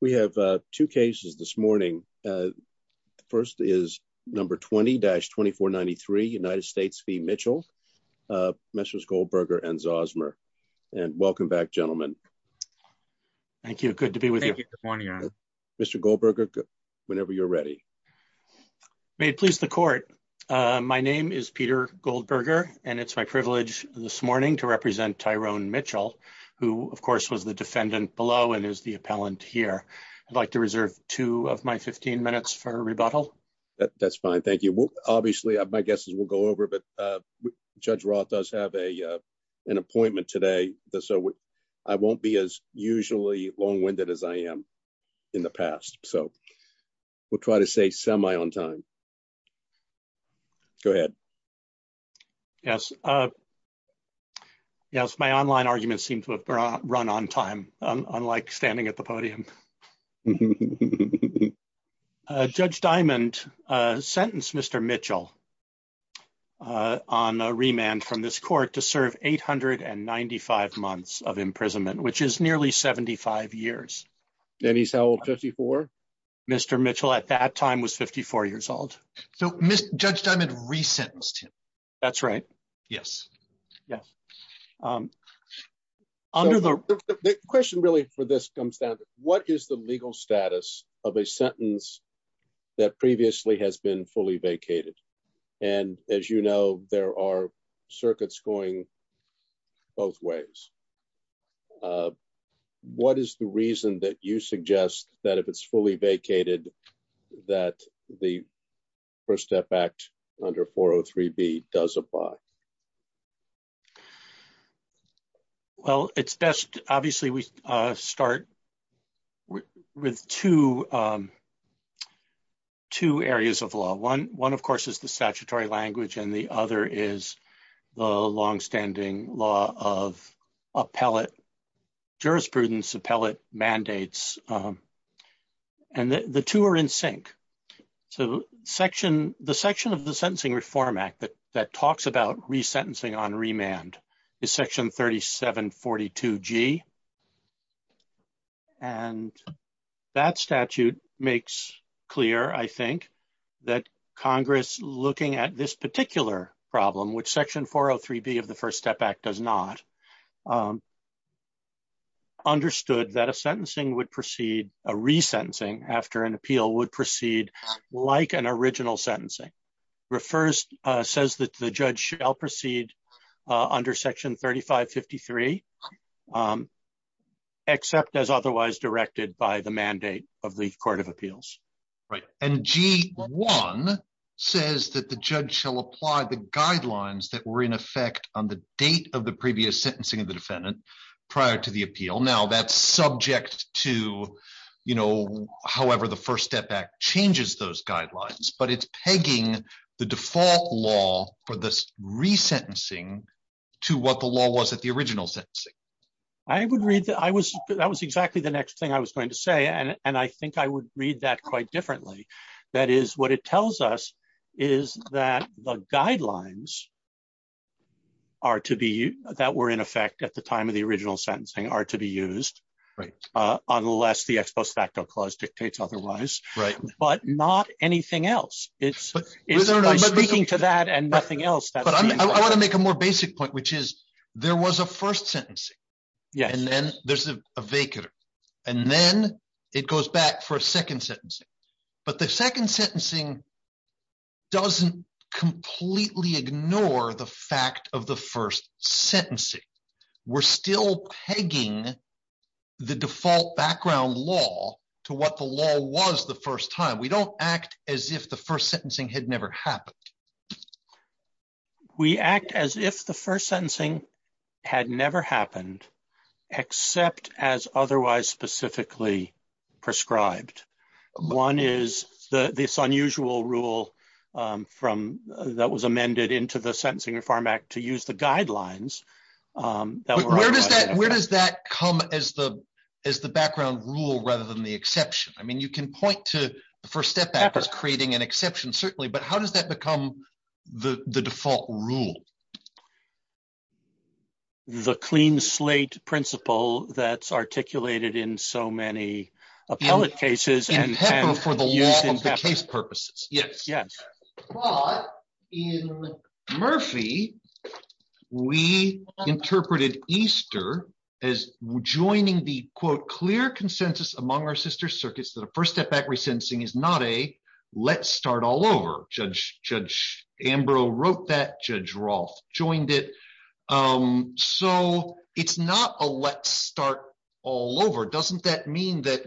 We have two cases this morning. First is number 20-2493 United States v. Mitchell, Messrs. Goldberger and Zosmer. And welcome back, gentlemen. Thank you. Good to be with you. Thank you for joining us. Mr. Goldberger, whenever you're ready. May it please the court. My name is Peter Goldberger, and it's my privilege this morning to represent Tyrone Mitchell, who of course was the defendant below and is the appellant here. I'd like to reserve two of my 15 minutes for rebuttal. That's fine. Thank you. Obviously, my guess is we'll go over, but Judge Roth does have an appointment today. So I won't be as usually long-winded as I am in the past. So we'll try to stay semi on time. Go ahead. Yes. Yes, my online arguments seem to have run on time, unlike standing at the podium. Judge Diamond sentenced Mr. Mitchell on remand from this court to serve 895 months of imprisonment, which is nearly 75 years. And he's now 54? Mr. Mitchell at that time was 54 years old. So Judge Diamond re-sentenced him. That's right. Yes. Yeah. The question really for this comes down to what is the legal status of a sentence that previously has been fully vacated? And as you know, there are circuits going both ways. What is the reason that you suggest that if it's fully vacated, that the First Step Act under 403B does apply? Well, it's best, obviously, we start with two areas of law. One, of course, is the statutory language. And the other is the longstanding law of appellate jurisprudence, appellate mandates. And the two are in sync. So the section of the Sentencing Reform Act that talks about re-sentencing on remand is Section 3742G. And that statute makes clear, I think, that Congress looking at this particular problem, which Section 403B of the First Step Act does not, understood that a sentencing would proceed, a re-sentencing after an appeal would proceed like an original sentencing. It says that the judge shall proceed under Section 3553, except as otherwise directed by the mandate of the Court of Appeals. Right. And G1 says that the judge shall apply the guidelines that were in effect on the date of the previous sentencing of the defendant prior to the appeal. Now that's subject to, you know, however the First Step Act changes those guidelines, but it's pegging the default law for this re-sentencing to what the law was at the original sentencing. I would read that. That was exactly the next thing I was going to say. And I think I would read that quite differently. That is, what it tells us is that the guidelines are to be, that were in effect at the time of the original sentencing, are to be used. Right. Unless the ex post facto clause dictates otherwise. Right. But not anything else. It's by speaking to that and nothing else. But I want to make a more basic point, which is there was a first sentencing. And then there's a vacant. And then it goes back for a second sentencing. But the second sentencing doesn't completely ignore the fact of the first sentencing. We're still pegging the default background law to what the law was the first time. We don't act as if the first sentencing had never happened, except as otherwise specifically prescribed. One is this unusual rule that was amended into the Sentencing Reform Act to use the guidelines. Where does that come as the background rule rather than the exception? I mean, you can point to the first step back as creating an exception, certainly, but how does that become the default rule? The clean slate principle that's articulated in so many appellate cases and for the use in the case purposes. Yes, yes. But in Murphy, we interpreted Easter as joining the quote, clear consensus among our sister circuits that a first step resentencing is not a let's start all over. Judge Ambrose wrote that. Judge Roth joined it. So it's not a let's start all over. Doesn't that mean that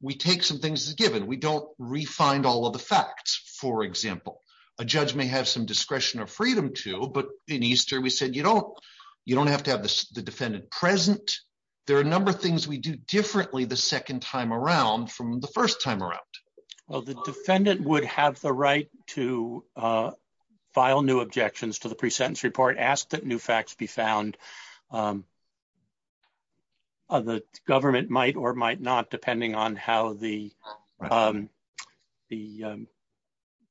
we take some things as given? We don't refine all of the facts. For example, a judge may have some discretion or freedom to. But in Easter, we said, you don't have to have the defendant present. There are a number of things we do the second time around from the first time around. Well, the defendant would have the right to file new objections to the pre-sentence report, ask that new facts be found. The government might or might not, depending on how the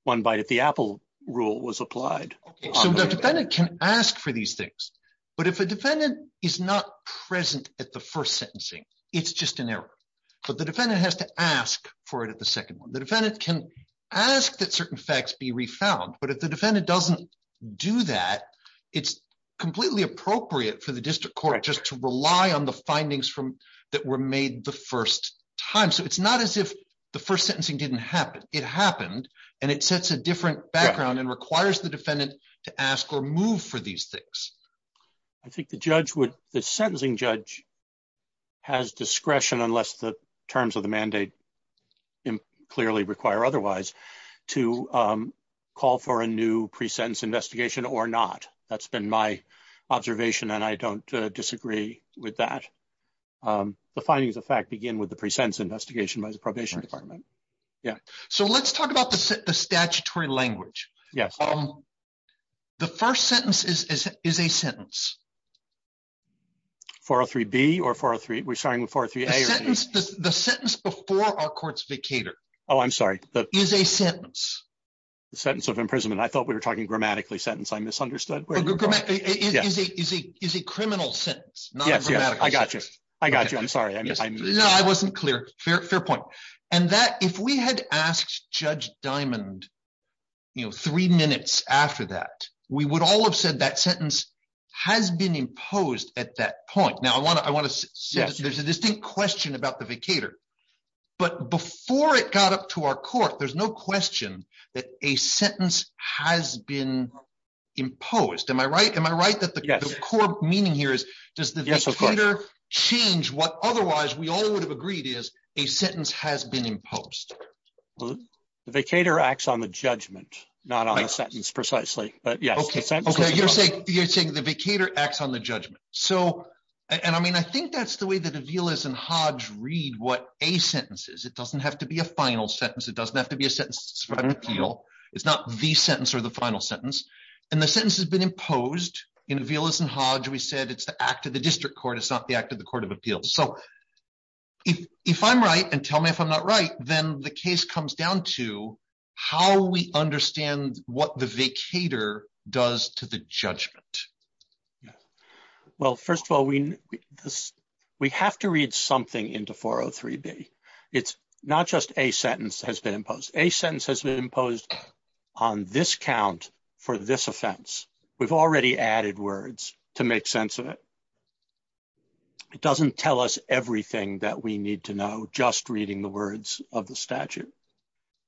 one bite at the apple rule was applied. So the defendant can ask for these things. But if a defendant is not present at the first sentencing, it's just an error. But the defendant has to ask for it at the second one. The defendant can ask that certain facts be refound. But if the defendant doesn't do that, it's completely appropriate for the district court just to rely on the findings from that were made the first time. So it's not as if the first sentencing didn't happen. It happened. And it sets a different background and requires the defendant to ask or move for these things. I think the judge the sentencing judge has discretion unless the terms of the mandate clearly require otherwise to call for a new pre-sentence investigation or not. That's been my observation. And I don't disagree with that. The findings of fact begin with the pre-sentence investigation by the probation department. Yeah. So let's talk about the statutory language. Yes. The first sentence is a sentence. 403B or 403? We're starting with 403A. The sentence before our court's vacator. Oh, I'm sorry. Is a sentence. The sentence of imprisonment. I thought we were talking grammatically sentence. I misunderstood. Is a criminal sentence. Yes. I got you. I got you. I'm sorry. No, I wasn't clear. Fair point. And that if we had asked Judge Diamond, you know, three minutes after that, we would all have said that sentence has been imposed at that point. Now, I want to I want to say there's a distinct question about the vacator, but before it got up to our court, there's no question that a sentence has been imposed. Am I right? Am I right? That the core meaning here is does the vacator change what otherwise we all agreed is a sentence has been imposed. Well, the vacator acts on the judgment, not on a sentence precisely. But yes, you're saying you're saying the vacator acts on the judgment. So and I mean, I think that's the way that Avila's and Hodge read what a sentence is. It doesn't have to be a final sentence. It doesn't have to be a sentence. It's not the sentence or the final sentence. And the sentence has been imposed in Avila's and Hodge. We said it's the act of the district court, it's not the act of the Court of Appeals. So if I'm right, and tell me if I'm not right, then the case comes down to how we understand what the vacator does to the judgment. Yeah. Well, first of all, we this, we have to read something into 403b. It's not just a sentence has been imposed, a sentence has been imposed on this count for this offense, we've already added words to make sense of it. It doesn't tell us everything that we need to know just reading the words of the statute.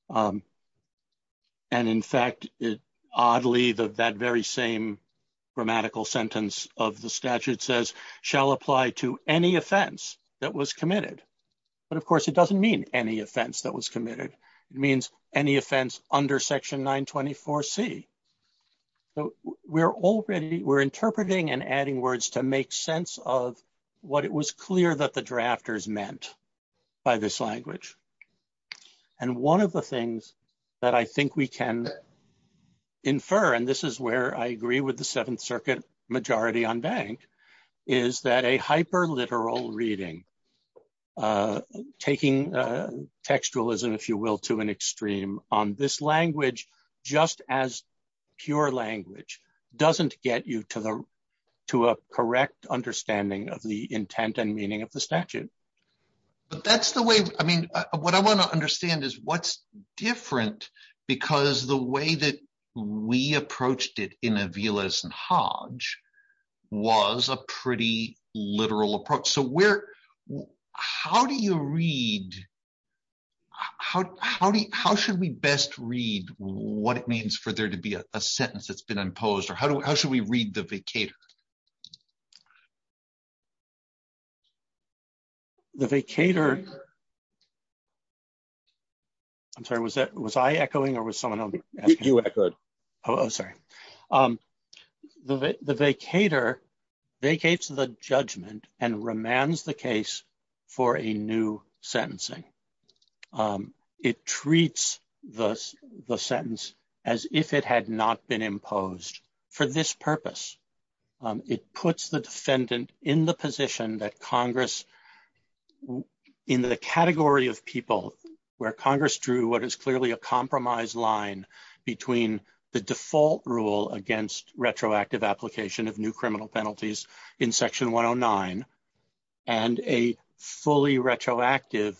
And in fact, oddly, that very same grammatical sentence of the statute says shall apply to any offense that was committed. But of course, it doesn't mean any offense that was committed. It means any offense under section 924 C. So we're already we're interpreting and adding words to make sense of what it was clear that the drafters meant by this language. And one of the things that I think we can infer, and this is where I agree with the Seventh Circuit majority on bank, is that a hyper literal reading, taking textualism, if you will, to an extreme on this language, just as pure language doesn't get you to the to a correct understanding of the intent and meaning of the statute. But that's the way I mean, what I want to understand is what's different, because the way that we approached it in Avila's and Hodge was a pretty literal approach. So where, how do you read? How, how do you, how should we best read what it means for there to be a sentence that's been imposed? Or how do we, how should we read the vacator? The vacator. I'm sorry, was that, was I echoing or was someone else? You echoed. Oh, sorry. The vacator vacates the judgment and remands the case for a new sentencing. It treats the the sentence as if it had not been imposed for this purpose. It puts the defendant in the position that Congress in the category of people where Congress drew what is clearly a compromise line between the default rule against retroactive application of new criminal penalties in section 109 and a fully retroactive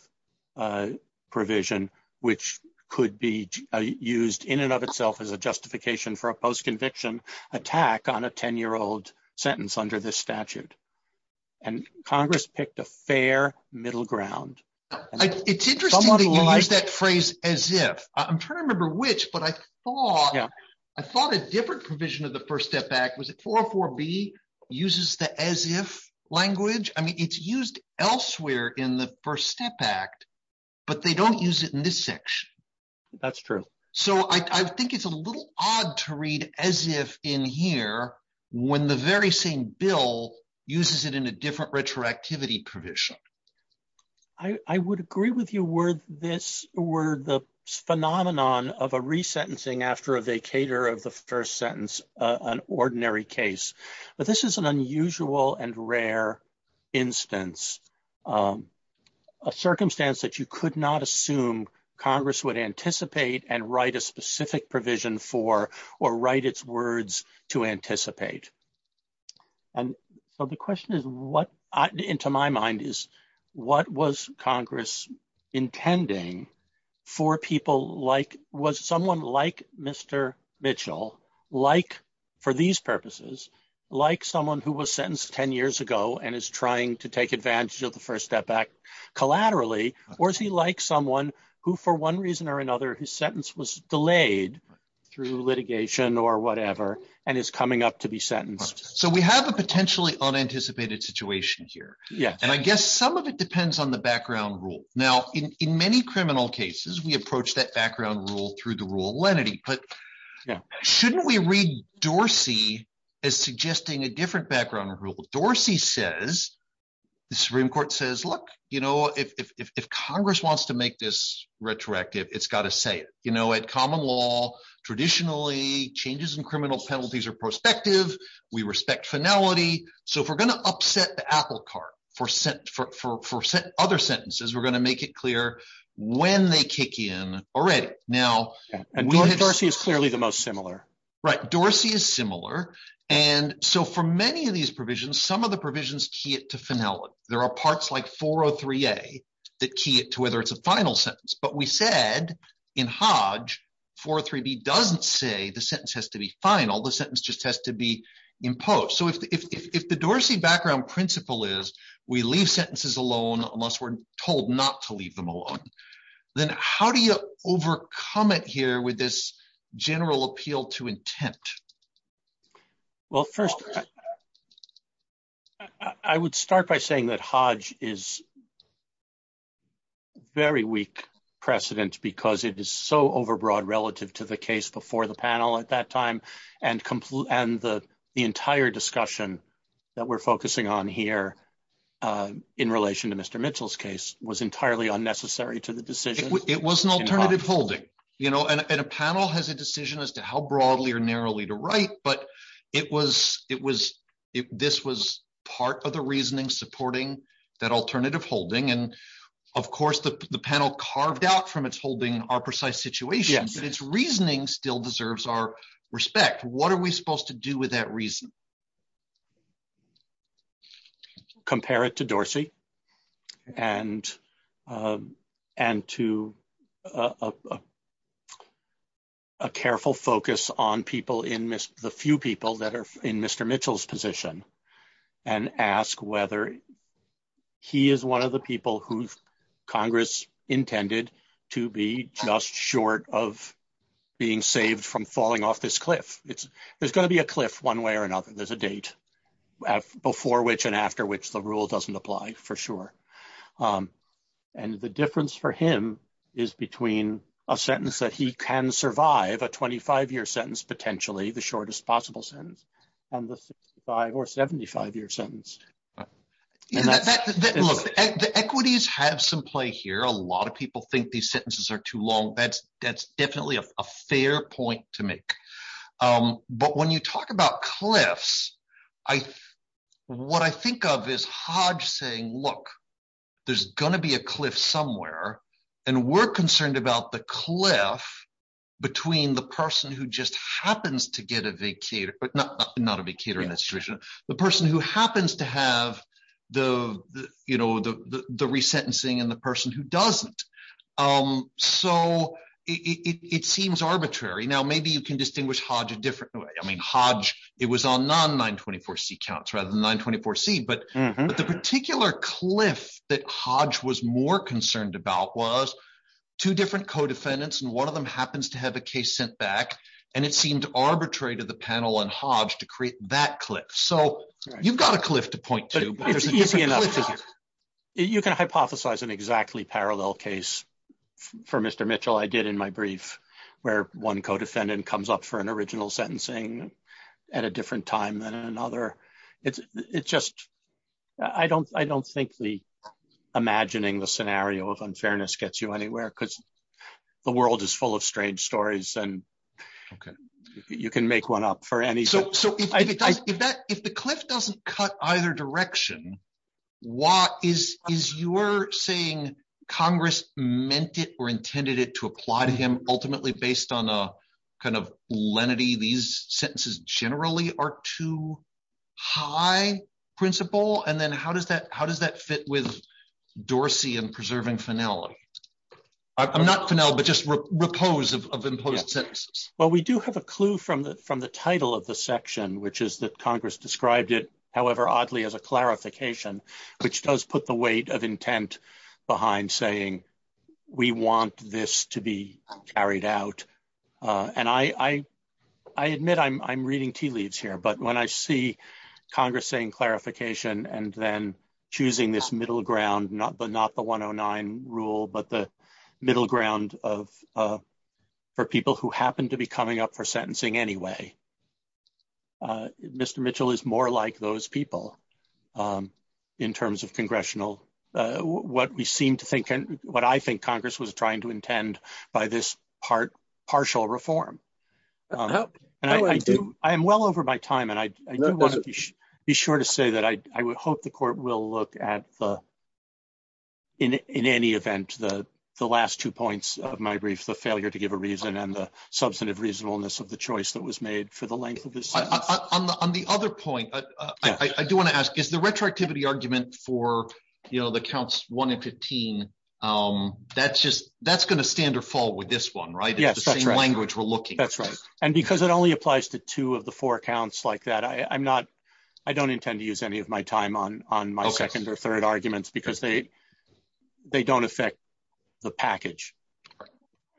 provision which could be used in and of itself as a justification for a post-conviction attack on a 10-year-old sentence under this statute. And Congress picked a fair middle ground. It's interesting that you use that phrase as if. I'm trying to remember which, but I thought, I thought a different provision of the First Step Act was it 404b uses the as if language. I mean, it's used elsewhere in the First Step Act, but they don't use it in this section. That's true. So I think it's a little odd to read as if in here when the very same bill uses it in a different retroactivity provision. I would agree with you were this were the phenomenon of a resentencing after a vacator of the first sentence an ordinary case, but this is an unusual and rare instance. A circumstance that you could not assume Congress would anticipate and write a specific provision for or write its words to anticipate. And so the question is what into my mind is what was Congress intending for people like was someone like Mr. Mitchell like for these purposes like someone who was sentenced 10 years ago and is trying to take advantage of the First Step Act collaterally or is he like someone who for one reason or another his sentence was delayed through litigation or whatever and is coming up to be sentenced. So we have a potentially unanticipated situation here. Yeah, and I guess some of it depends on the background rule. Now in many criminal cases we approach that background rule through the rule of lenity, but shouldn't we read Dorsey as suggesting a different background rule? Dorsey says the Supreme Court says look you know if Congress wants to make this retroactive it's got to say it. You know at common law traditionally changes in criminal penalties are prospective. We respect finality. So if we're going to upset the apple cart for other sentences we're going to make it clear when they kick in already. Now Dorsey is clearly the most similar. Right Dorsey is similar and so for many of these provisions some of the provisions key it to finality. There are parts like 403a that key it to whether it's a final sentence, but we said in Hodge 403b doesn't say the sentence has to be final the sentence just has to be imposed. So if the Dorsey background principle is we leave sentences alone unless we're told not to leave them alone, then how do you overcome it here with this general appeal to intent? Well first I would start by saying that Hodge is very weak precedent because it is so overbroad relative to the case before the panel at that time and the entire discussion that we're focusing on here in relation to Mr. Mitchell's case was entirely unnecessary to the decision. It was an alternative holding you know and a panel has a decision as to how broadly or narrowly to write but it was it was if this was part of the reasoning supporting that alternative holding and of course the panel carved out from its holding our precise situation but its reasoning still deserves our respect. What are we supposed to with that reason? Compare it to Dorsey and to a careful focus on people in the few people that are in Mr. Mitchell's position and ask whether he is one of the people who Congress intended to be just short of being saved from falling off this cliff. It's there's going to be a cliff one way or another. There's a date before which and after which the rule doesn't apply for sure and the difference for him is between a sentence that he can survive a 25-year sentence potentially the shortest possible sentence and the 65 or 75-year sentence. Yeah look the equities have some play here. A lot of people think these sentences are too long. That's definitely a fair point to make but when you talk about cliffs what I think of is Hodge saying look there's going to be a cliff somewhere and we're concerned about the cliff between the person who just happens to get a vacator but not a vacator in this situation. The person who happens to have the resentencing and the person who doesn't so it seems arbitrary. Now maybe you can distinguish Hodge a different way. I mean Hodge it was on non-924c counts rather than 924c but the particular cliff that Hodge was more concerned about was two different co-defendants and one of them happens to have a case sent back and it seemed arbitrary to the panel and Hodge to create that cliff. So you've got a cliff to point to but it's easy enough. You can hypothesize an exactly parallel case for Mr. Mitchell. I did in my brief where one co-defendant comes up for an original sentencing at a different time than another. It's just I don't think the imagining the scenario of unfairness gets you anywhere because the world is full of strange stories and you can make one up for any. So if the cliff doesn't cut either direction is you're saying Congress meant it or intended it to apply to him ultimately based on a kind of lenity these sentences generally are too high principle and then how does that fit with Dorsey and preserving Fennell? I'm not Fennell but just repose of imposed sentences. Well we do have a clue from the title of the section which is that Congress described it however oddly as a clarification which does put the weight of intent behind saying we want this to be carried out and I admit I'm reading tea leaves here but when I see Congress saying clarification and then choosing this middle ground not but not the 109 rule but the middle ground of for people who happen to be coming up for sentencing anyway Mr. Mitchell is more like those people in terms of congressional what we seem to think and what I think Congress was trying to intend by this part partial reform and I do I am well over my time and I do want to be sure to say that I would hope the court will look at the in any event the the last two points of my brief the failure to give a reason and the substantive reasonableness of the choice that was made for the length of this on the other point I do want to ask is the retroactivity argument for you know the counts 1 and 15 that's just that's going to stand or fall with this one right yes that's the same language we're looking that's right and because it only applies to two of the four accounts like that I I'm not I don't intend to use any of my time on on my second or third arguments because they they don't affect the package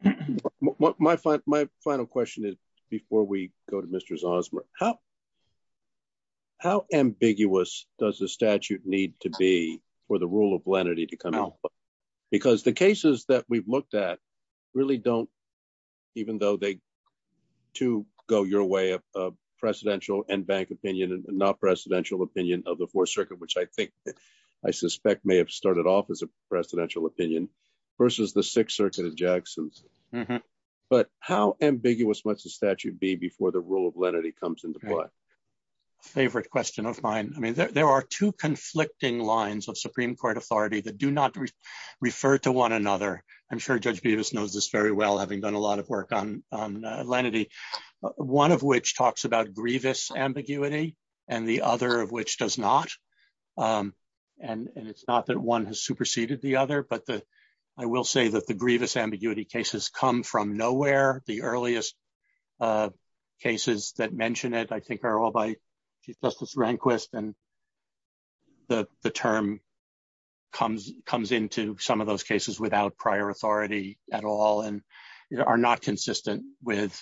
my my final question is before we go to Mr. Zosmer how how ambiguous does the statute need to be for the rule of lenity to come out because the cases that we've looked at really don't even though they to go your way of uh presidential and bank opinion and not presidential opinion of the fourth circuit which I think I suspect may have started off as a presidential opinion versus the sixth circuit of jackson's but how ambiguous must the statute be before the rule of lenity comes into play favorite question of mine I mean there are two conflicting lines of supreme court authority that do not refer to one another I'm sure Judge Beavis knows this very well having done a lot of work on on lenity one of which talks about grievous ambiguity and the other of which does not um and and it's not that one has superseded the other but the I will say that the grievous ambiguity cases come from nowhere the earliest uh cases that mention it I think are all by Chief Justice Rehnquist and the the term comes comes into some of those cases without prior authority at all and are not consistent with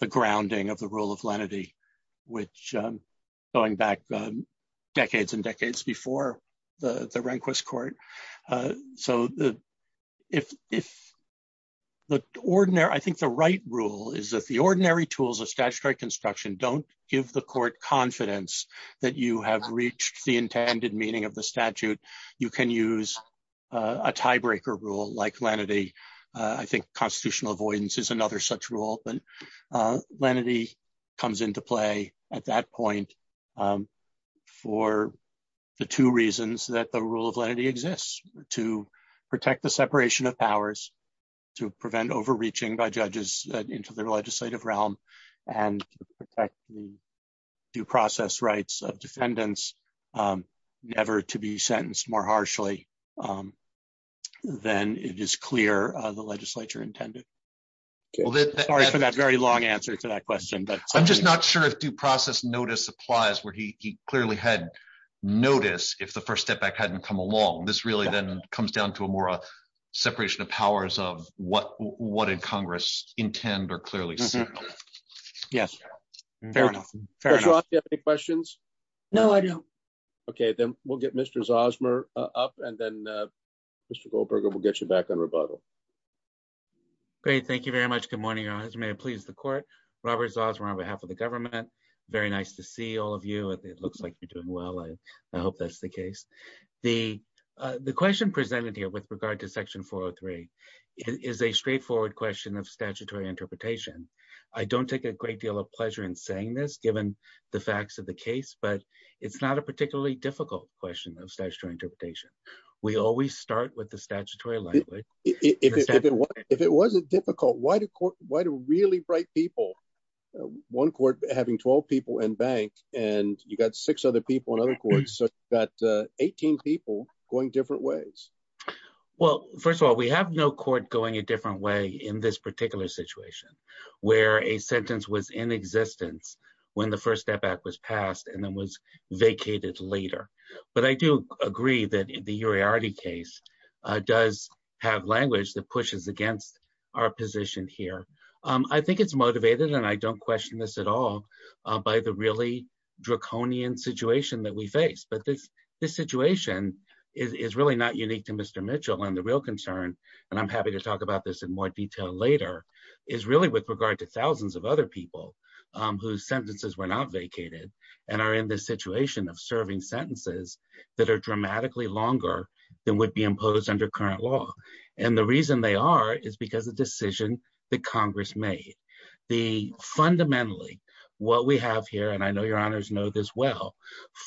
the grounding of the rule of lenity which um going back decades and decades before the the Rehnquist court uh so the if if the ordinary I think the right rule is that the ordinary tools of statutory construction don't give the court confidence that you have reached the intended meaning of the statute you can use a tiebreaker rule like lenity I think constitutional avoidance is another such rule but lenity comes into play at that point for the two reasons that the rule of lenity exists to protect the separation of powers to prevent overreaching by judges into the legislative realm and to protect the due then it is clear uh the legislature intended sorry for that very long answer to that question but I'm just not sure if due process notice applies where he he clearly had notice if the first step back hadn't come along this really then comes down to a more a separation of powers of what what did congress intend or clearly see yes fair enough questions no I don't okay then we'll get Mr. Zosmer up and then Mr. Goldberger we'll get you back on rebuttal great thank you very much good morning your honor may I please the court Robert Zosmer on behalf of the government very nice to see all of you it looks like you're doing well I hope that's the case the uh the question presented here with regard to section 403 is a straightforward question of statutory interpretation I don't take a great deal of pleasure in saying this given the facts of the case but it's not a particularly difficult question of statutory interpretation we always start with the statutory language if it wasn't difficult why do court why do really bright people one court having 12 people in bank and you got six other people in other courts so you got uh 18 people going different ways well first of all we have no court going a different way in this particular situation where a sentence was in existence when the first step back was passed and then was vacated later but I do agree that the Uriarte case does have language that pushes against our position here I think it's motivated and I don't question this at all by the really draconian situation that we face but this this situation is really not unique to Mr. Mitchell and the real concern and I'm happy to whose sentences were not vacated and are in this situation of serving sentences that are dramatically longer than would be imposed under current law and the reason they are is because the decision that Congress made the fundamentally what we have here and I know your honors know this well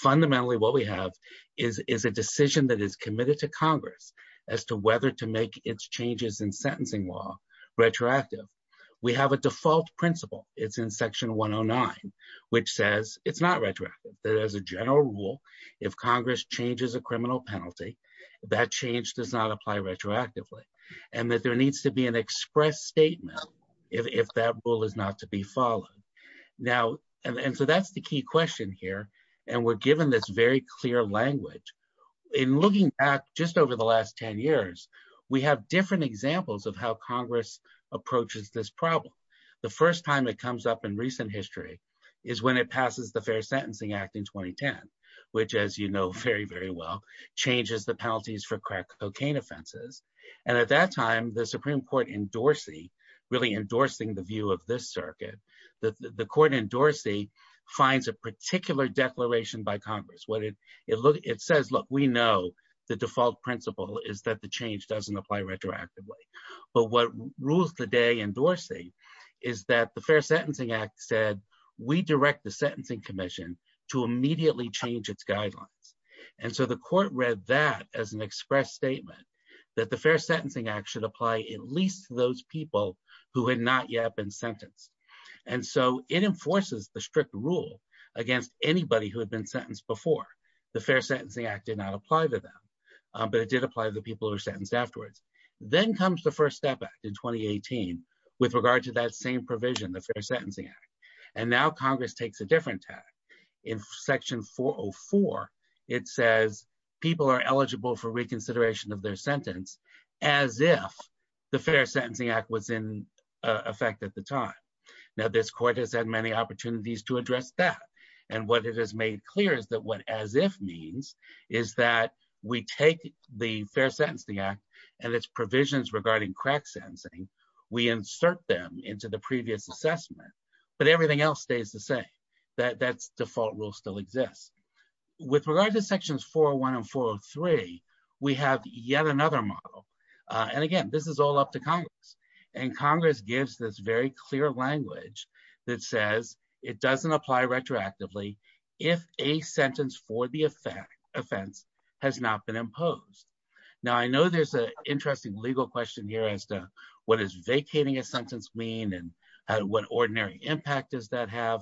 fundamentally what we have is is a decision that is committed to Congress as to whether to in section 109 which says it's not retroactive that as a general rule if Congress changes a criminal penalty that change does not apply retroactively and that there needs to be an express statement if that rule is not to be followed now and so that's the key question here and we're given this very clear language in looking back just over the last 10 years we have different examples of how Congress approaches this problem the first time it comes up in recent history is when it passes the Fair Sentencing Act in 2010 which as you know very very well changes the penalties for crack cocaine offenses and at that time the Supreme Court in Dorsey really endorsing the view of this circuit the the court in Dorsey finds a particular declaration by Congress what it it looks it says look we know the default principle is that the change doesn't apply retroactively but what rules the day in Dorsey is that the Fair Sentencing Act said we direct the Sentencing Commission to immediately change its guidelines and so the court read that as an express statement that the Fair Sentencing Act should apply at least to those people who had not yet been sentenced and so it enforces the strict rule against anybody who had been sentenced before the Fair Sentencing Act did not apply to them but it did apply to the people who are sentenced afterwards then comes the First Step Act in 2018 with regard to that same provision the Fair Sentencing Act and now Congress takes a different tack in section 404 it says people are eligible for reconsideration of their sentence as if the Fair Sentencing Act was in effect at the time now this court has had many opportunities to address that and what it has made clear is that as if means is that we take the Fair Sentencing Act and its provisions regarding crack sensing we insert them into the previous assessment but everything else stays the same that that's default rule still exists with regard to sections 401 and 403 we have yet another model and again this is all up to Congress and Congress gives this very clear language that says it doesn't apply retroactively if a sentence for the offense has not been imposed now I know there's an interesting legal question here as to what is vacating a sentence mean and what ordinary impact does that have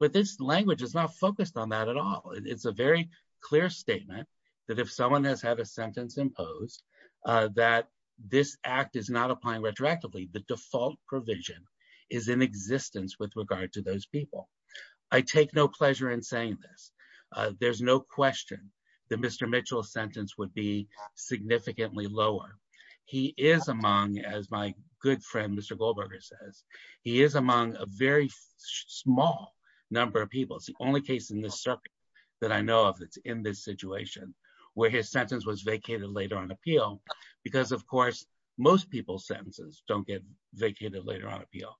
but this language is not focused on that at all it's a very clear statement that if someone has had a sentence imposed that this act is not applying retroactively the default provision is in existence with regard to those people I take no pleasure in saying this there's no question that Mr. Mitchell's sentence would be significantly lower he is among as my good friend Mr. Goldberger says he is among a very small number of people it's the only case in this circuit that I know of that's in this situation where his sentence was vacated later on appeal because of people's sentences don't get vacated later on appeal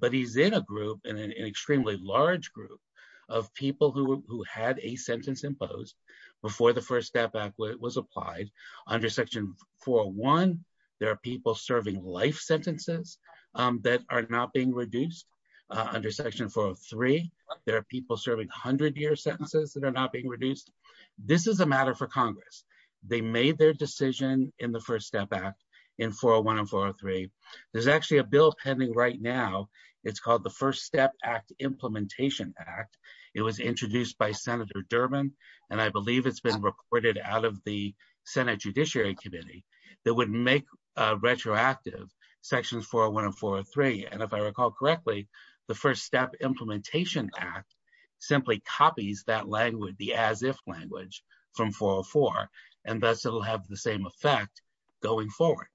but he's in a group in an extremely large group of people who who had a sentence imposed before the first step back when it was applied under section 401 there are people serving life sentences that are not being reduced under section 403 there are people serving hundred year sentences that are not being reduced this is a matter for congress they made their decision in the first step back in 401 and 403 there's actually a bill pending right now it's called the first step act implementation act it was introduced by senator Durbin and I believe it's been reported out of the senate judiciary committee that would make a retroactive section 401 and 403 and if I recall correctly the first implementation act simply copies that language the as if language from 404 and thus it'll have the same effect going forward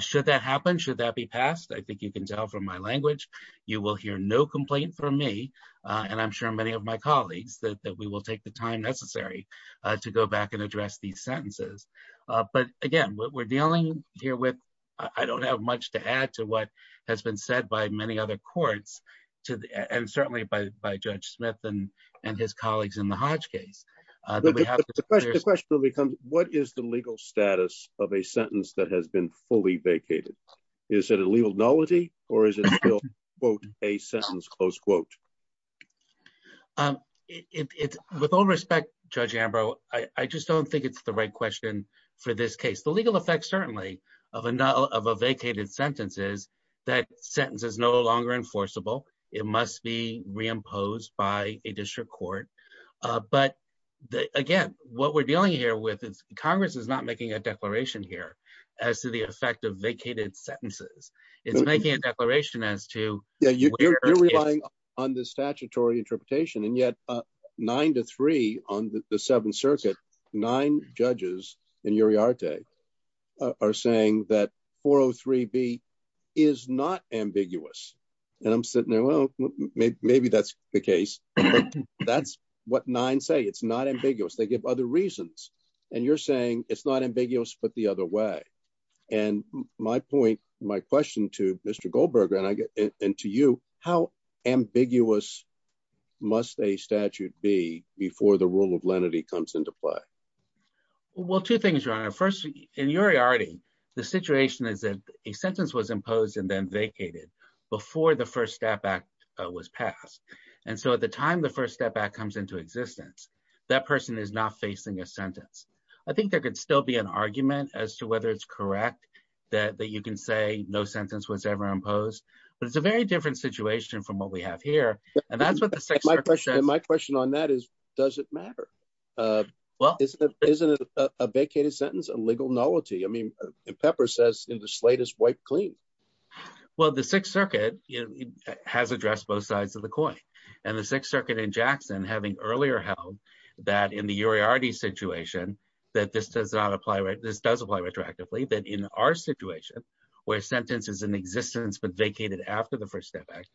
should that happen should that be passed I think you can tell from my language you will hear no complaint from me and I'm sure many of my colleagues that we will take the time necessary to go back and address these sentences but again what we're dealing here with I don't have much to add to what has been said by many other courts to and certainly by by judge smith and and his colleagues in the hodge case the question will become what is the legal status of a sentence that has been fully vacated is it a legal nullity or is it still quote a sentence close quote um it's with all respect judge ambrose I just don't think it's the right question for this case the legal effect certainly of a null of a vacated sentence is that sentence is no longer enforceable it must be reimposed by a district court but again what we're dealing here with is congress is not making a declaration here as to the effect of vacated sentences it's making a declaration as to yeah you're relying on the statutory interpretation and yet uh nine to three on the seventh circuit nine judges in uriarte are saying that 403b is not ambiguous and i'm sitting there well maybe that's the case that's what nine say it's not ambiguous they give other reasons and you're saying it's not ambiguous must a statute be before the rule of lenity comes into play well two things your honor first in uriarte the situation is that a sentence was imposed and then vacated before the first step act was passed and so at the time the first step act comes into existence that person is not facing a sentence I think there could still be an argument as to whether it's correct that that you can say no sentence was ever imposed but it's a very different situation from what we have here and that's what my question my question on that is does it matter uh well isn't it isn't it a vacated sentence a legal nullity I mean pepper says in the slightest wipe clean well the sixth circuit has addressed both sides of the coin and the sixth circuit in jackson having earlier held that in the uriarte situation that this does not apply right this does apply retroactively that in our situation where sentence is in existence but vacated after the first step act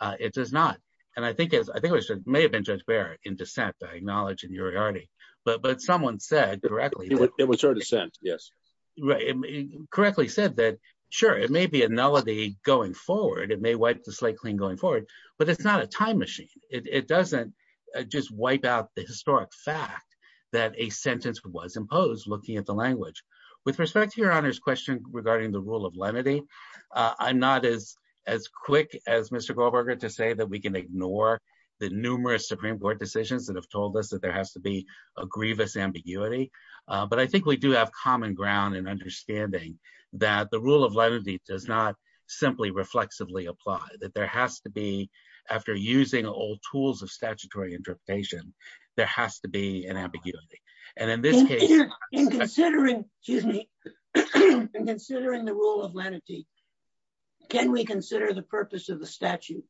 uh it does not and I think it's I think it may have been judge bear in descent I acknowledge in uriarte but but someone said correctly it was her dissent yes right correctly said that sure it may be a nullity going forward it may wipe the slate clean going forward but it's not a time machine it doesn't just wipe out the historic fact that a sentence was imposed looking at the language with respect to your honor's question regarding the rule of lenity uh I'm not as quick as Mr. Goldberger to say that we can ignore the numerous supreme court decisions that have told us that there has to be a grievous ambiguity uh but I think we do have common ground and understanding that the rule of lenity does not simply reflexively apply that there has to be after using old tools of statutory interpretation there has to be an ambiguity and in this case in considering excuse me in considering the rule of lenity can we consider the purpose of the statute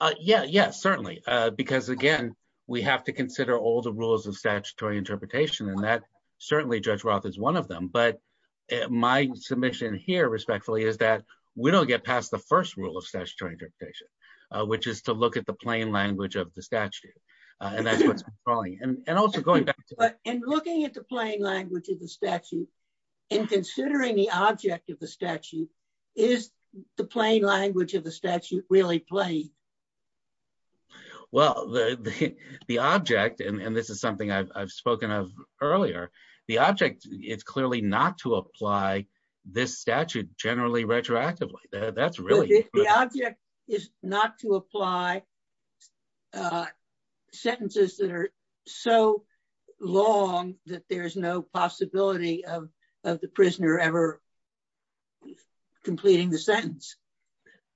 uh yeah yes certainly uh because again we have to consider all the rules of statutory interpretation and that certainly judge roth is one of them but my submission here respectfully is that we don't get past the first rule of statutory interpretation which is to look at the plain language of the statute and that's what's controlling and also going back and looking at the plain language of the statute and considering the object of the statute is the plain language of the statute really plain well the the object and this is something I've spoken of earlier the object it's clearly not to apply this statute generally retroactively that's really the object is not to apply uh sentences that are so long that there's no possibility of of the prisoner ever completing the sentence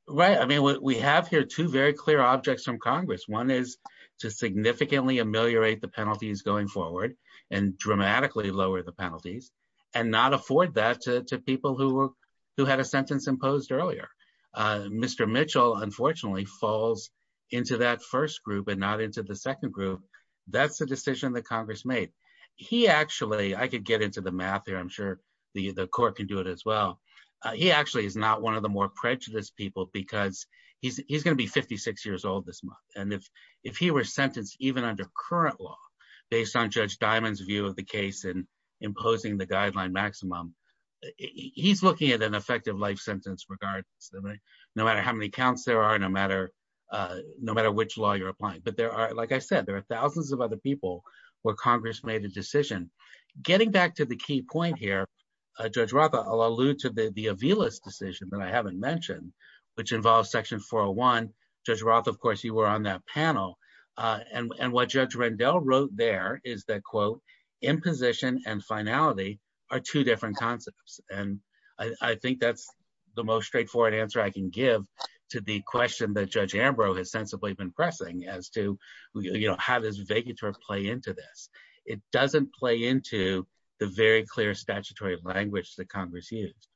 right I mean we have here two very clear objects from congress one is to significantly ameliorate the penalties going forward and earlier uh mr mitchell unfortunately falls into that first group and not into the second group that's the decision that congress made he actually I could get into the math here I'm sure the the court can do it as well he actually is not one of the more prejudiced people because he's he's going to be 56 years old this month and if if he were sentenced even under current law based on judge diamond's view of the case and imposing the guideline maximum he's looking at an effective life sentence regardless of it no matter how many counts there are no matter uh no matter which law you're applying but there are like I said there are thousands of other people where congress made a decision getting back to the key point here uh judge roth I'll allude to the the Avila's decision that I haven't mentioned which involves section 401 judge roth of course you were on that panel uh and and what judge Rendell wrote there is that quote imposition and finality are two different concepts and I think that's the most straightforward answer I can give to the question that judge Ambrose has sensibly been pressing as to you know how does Vegator play into this it doesn't play into the very clear statutory language that congress used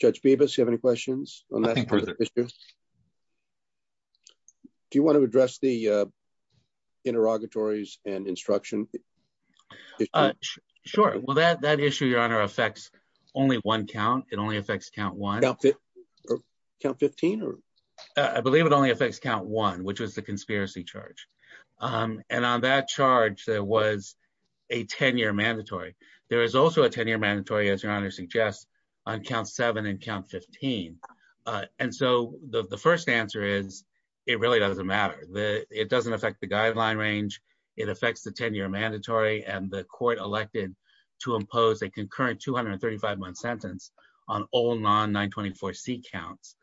judge Beavis you have any questions on that issue do you want to address the uh interrogatories and instruction sure well that that issue your honor affects only one count it only affects count one count 15 or I believe it only affects count one which was the conspiracy charge and on that charge there was a 10-year mandatory there is also a 10-year mandatory as your honor on count 7 and count 15 and so the first answer is it really doesn't matter the it doesn't affect the guideline range it affects the 10-year mandatory and the court elected to impose a concurrent 235 month sentence on all non-924c counts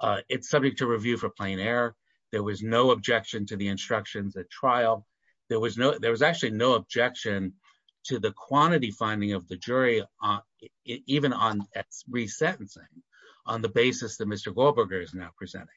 uh it's subject to review for plain error there was no objection to the instructions at trial there was no there was actually no objection to the quantity finding of the jury on even on re-sentencing on the basis that Mr. Goldberger is now presenting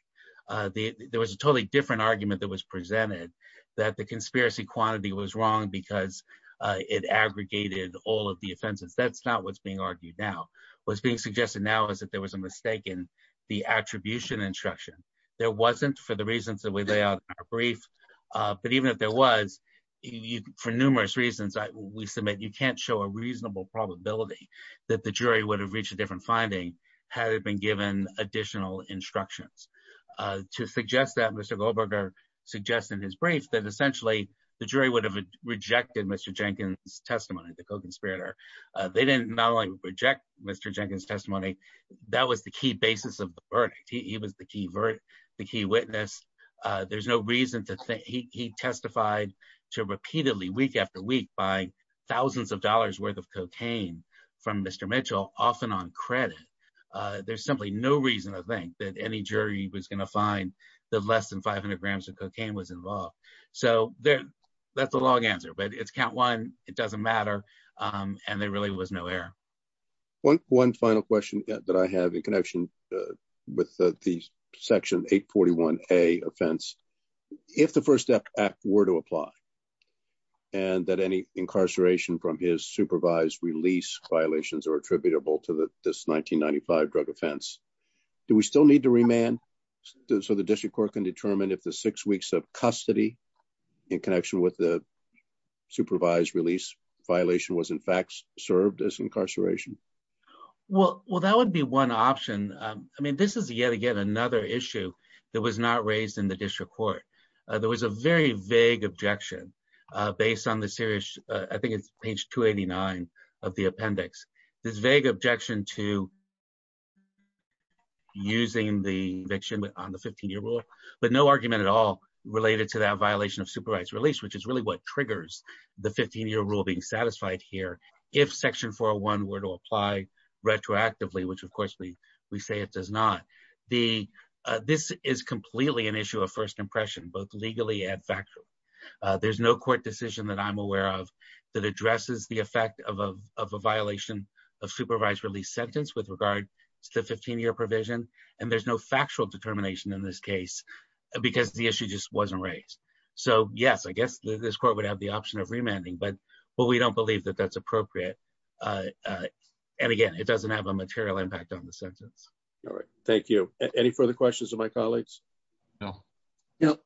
uh the there was a totally different argument that was presented that the conspiracy quantity was wrong because uh it aggregated all of the offenses that's not what's being argued now what's being suggested now is that there was a mistake in the attribution instruction there wasn't for the reasons that we lay out in our brief uh but even if there was for numerous reasons we submit you can't show a reasonable probability that the jury would have reached a different finding had it been given additional instructions uh to suggest that Mr. Goldberger suggests in his brief that essentially the jury would have rejected Mr. Jenkins testimony the co-conspirator uh they didn't not only reject Mr. Jenkins testimony that was the key basis of to repeatedly week after week by thousands of dollars worth of cocaine from Mr. Mitchell often on credit uh there's simply no reason i think that any jury was going to find that less than 500 grams of cocaine was involved so there that's a long answer but it's count one it doesn't matter um and there really was no error one one final question that i have in connection with the section 841a offense if the first step act were to apply and that any incarceration from his supervised release violations are attributable to the this 1995 drug offense do we still need to remand so the district court can determine if the six weeks of custody in connection with the supervised release violation was in fact served as incarceration well well that would be one option um i mean this is yet again another issue that was not raised in the district court uh there was a very vague objection uh based on the series i think it's page 289 of the appendix this vague objection to using the eviction on the 15-year rule but no argument at all related to that violation of supervised release which is really what triggers the 15-year rule being satisfied here if section 401 were to apply retroactively which of course we we say it does not the this is completely an issue of first impression both legally and factually uh there's no court decision that i'm aware of that addresses the effect of a violation of supervised release sentence with regard to the 15-year provision and there's no factual determination in this case because the issue just wasn't raised so yes i guess this court would have the option of remanding but but we don't believe that that's appropriate uh uh and again it doesn't have a material impact on the sentence all right thank you any further questions of my colleagues no no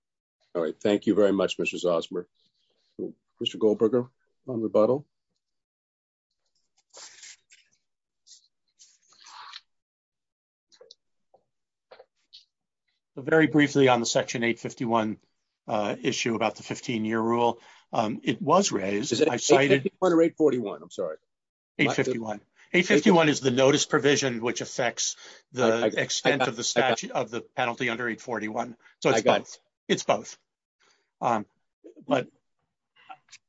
all right thank you very much mrs osmer christopher goldberger on rebuttal so very briefly on the section 851 uh issue about the 15-year rule um it was raised i've cited under 841 i'm sorry 851 851 is the notice provision which affects the extent of the statute of the penalty under 841 so it's both it's both um but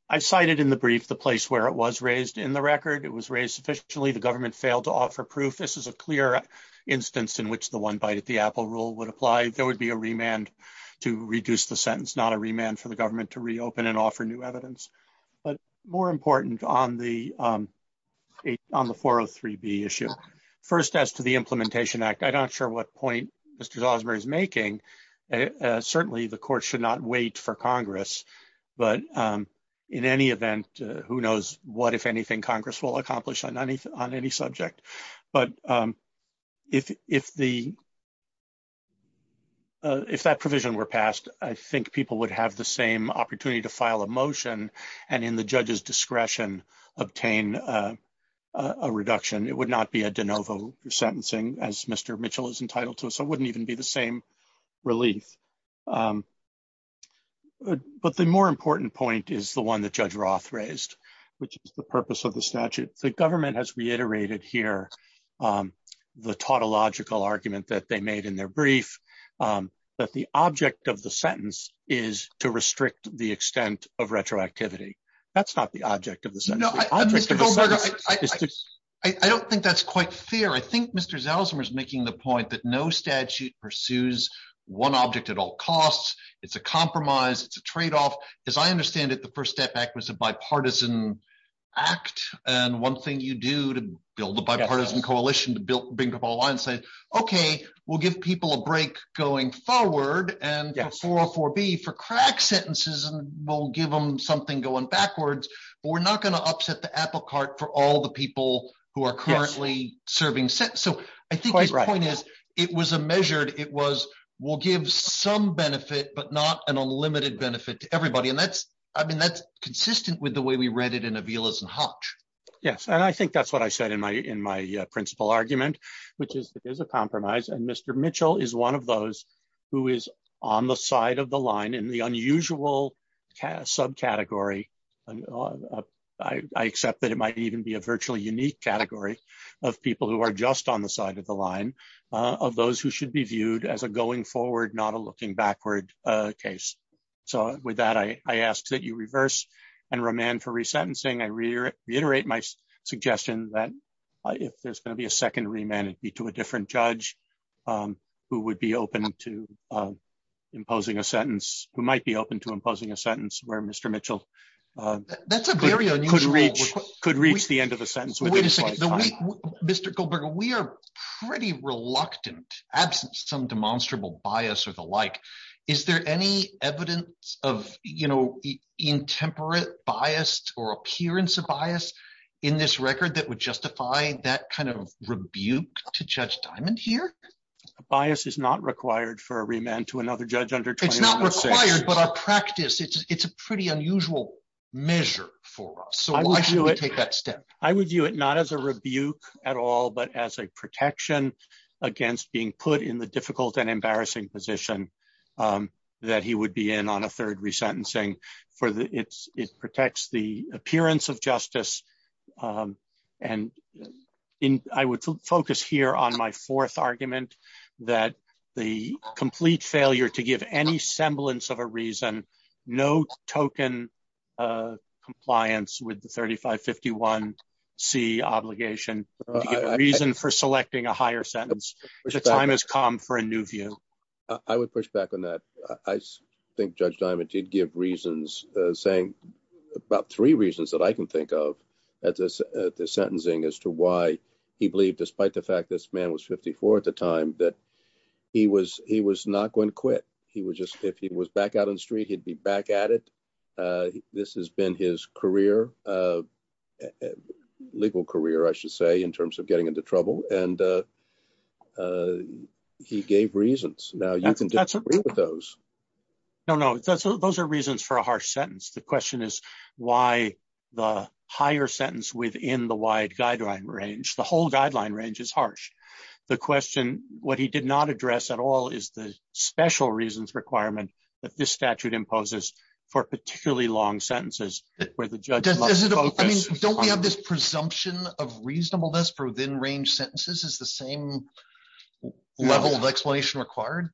i've cited in the brief the place where it was raised in the record it was raised sufficiently the government failed to offer proof this is a clear instance in which the one bite at the apple rule would apply there would be a remand to reduce the sentence not a remand for the government to reopen and offer new evidence but more important on the um on the 403b issue first as to the implementation act i'm not sure what point mr osmer is making uh certainly the court should not wait for congress but um in any event who knows what if anything congress will accomplish on any on any subject but um if if the if that provision were passed i think people would have the same opportunity to file a motion and in the judge's discretion obtain uh a reduction it would not be a de novo sentencing as mr mitchell is entitled to so it wouldn't even be the same relief um but the more important point is the one that judge roth raised which is the purpose of the statute the government has reiterated here um the tautological argument that they made in their brief um that the object of the sentence is to restrict the extent of retroactivity that's not the object of the sentence i don't think that's quite fair i think mr zell zimmer's making the point that no statute pursues one object at all costs it's a compromise it's a trade-off as i understand it the first step back was a bipartisan act and one thing you do to build a bipartisan coalition to build bring up all lines say okay we'll give people a break going forward and 404b for crack sentences and we'll give them something going backwards but we're not going to upset the apple for all the people who are currently serving so i think this point is it was a measured it was we'll give some benefit but not an unlimited benefit to everybody and that's i mean that's consistent with the way we read it in avilas and hotch yes and i think that's what i said in my in my principal argument which is that there's a compromise and mr mitchell is one of those who is on the side of the line in the unusual subcategory i accept that it might even be a virtually unique category of people who are just on the side of the line of those who should be viewed as a going forward not a looking backward uh case so with that i i ask that you reverse and remand for resentencing i reiterate my suggestion that if there's going to be a second remand it'd be to a different judge um who would be open to uh imposing a sentence who might be open to imposing a sentence where mr mitchell that's a very unusual could reach the end of the sentence wait a second mr goldberg we are pretty reluctant absent some demonstrable bias or the like is there any evidence of you know intemperate biased or appearance of bias in this that would justify that kind of rebuke to judge diamond here a bias is not required for a remand to another judge under it's not required but our practice it's it's a pretty unusual measure for us so why should we take that step i would view it not as a rebuke at all but as a protection against being put in the difficult and embarrassing position um that he would be in on a third resentencing for the it's it protects the appearance of justice um and in i would focus here on my fourth argument that the complete failure to give any semblance of a reason no token uh compliance with the 35 51 c obligation reason for selecting a higher sentence the time has come for a new view i would push back on that i think judge diamond did give reasons uh saying about three reasons that i can think of at this at the sentencing as to why he believed despite the fact this man was 54 at the time that he was he was not going to quit he was just if he was back out on the street he'd be back at it uh this has been his career uh legal career i should say in terms of getting into trouble and uh he gave reasons now you can disagree with those no no that's those are reasons for a harsh sentence the question is why the higher sentence within the wide guideline range the whole guideline range is harsh the question what he did not address at all is the special reasons requirement that this statute imposes for particularly long sentences where the judge don't we have this presumption of reasonableness for within range sentences is the same level of explanation required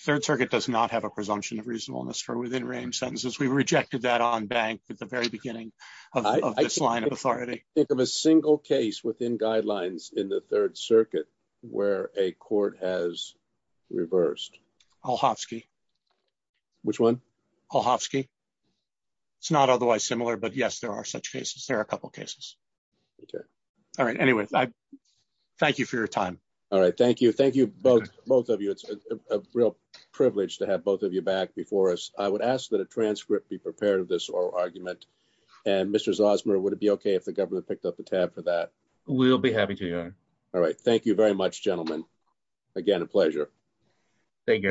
third circuit does not have a presumption of reasonableness for within range sentences we rejected that on bank at the very beginning of this line of authority think of a single case within guidelines in the third circuit where a court has there are a couple cases okay all right anyways i thank you for your time all right thank you thank you both both of you it's a real privilege to have both of you back before us i would ask that a transcript be prepared of this oral argument and mr zosmer would it be okay if the government picked up the tab for that we'll be happy to all right thank you very much gentlemen again a pleasure thank you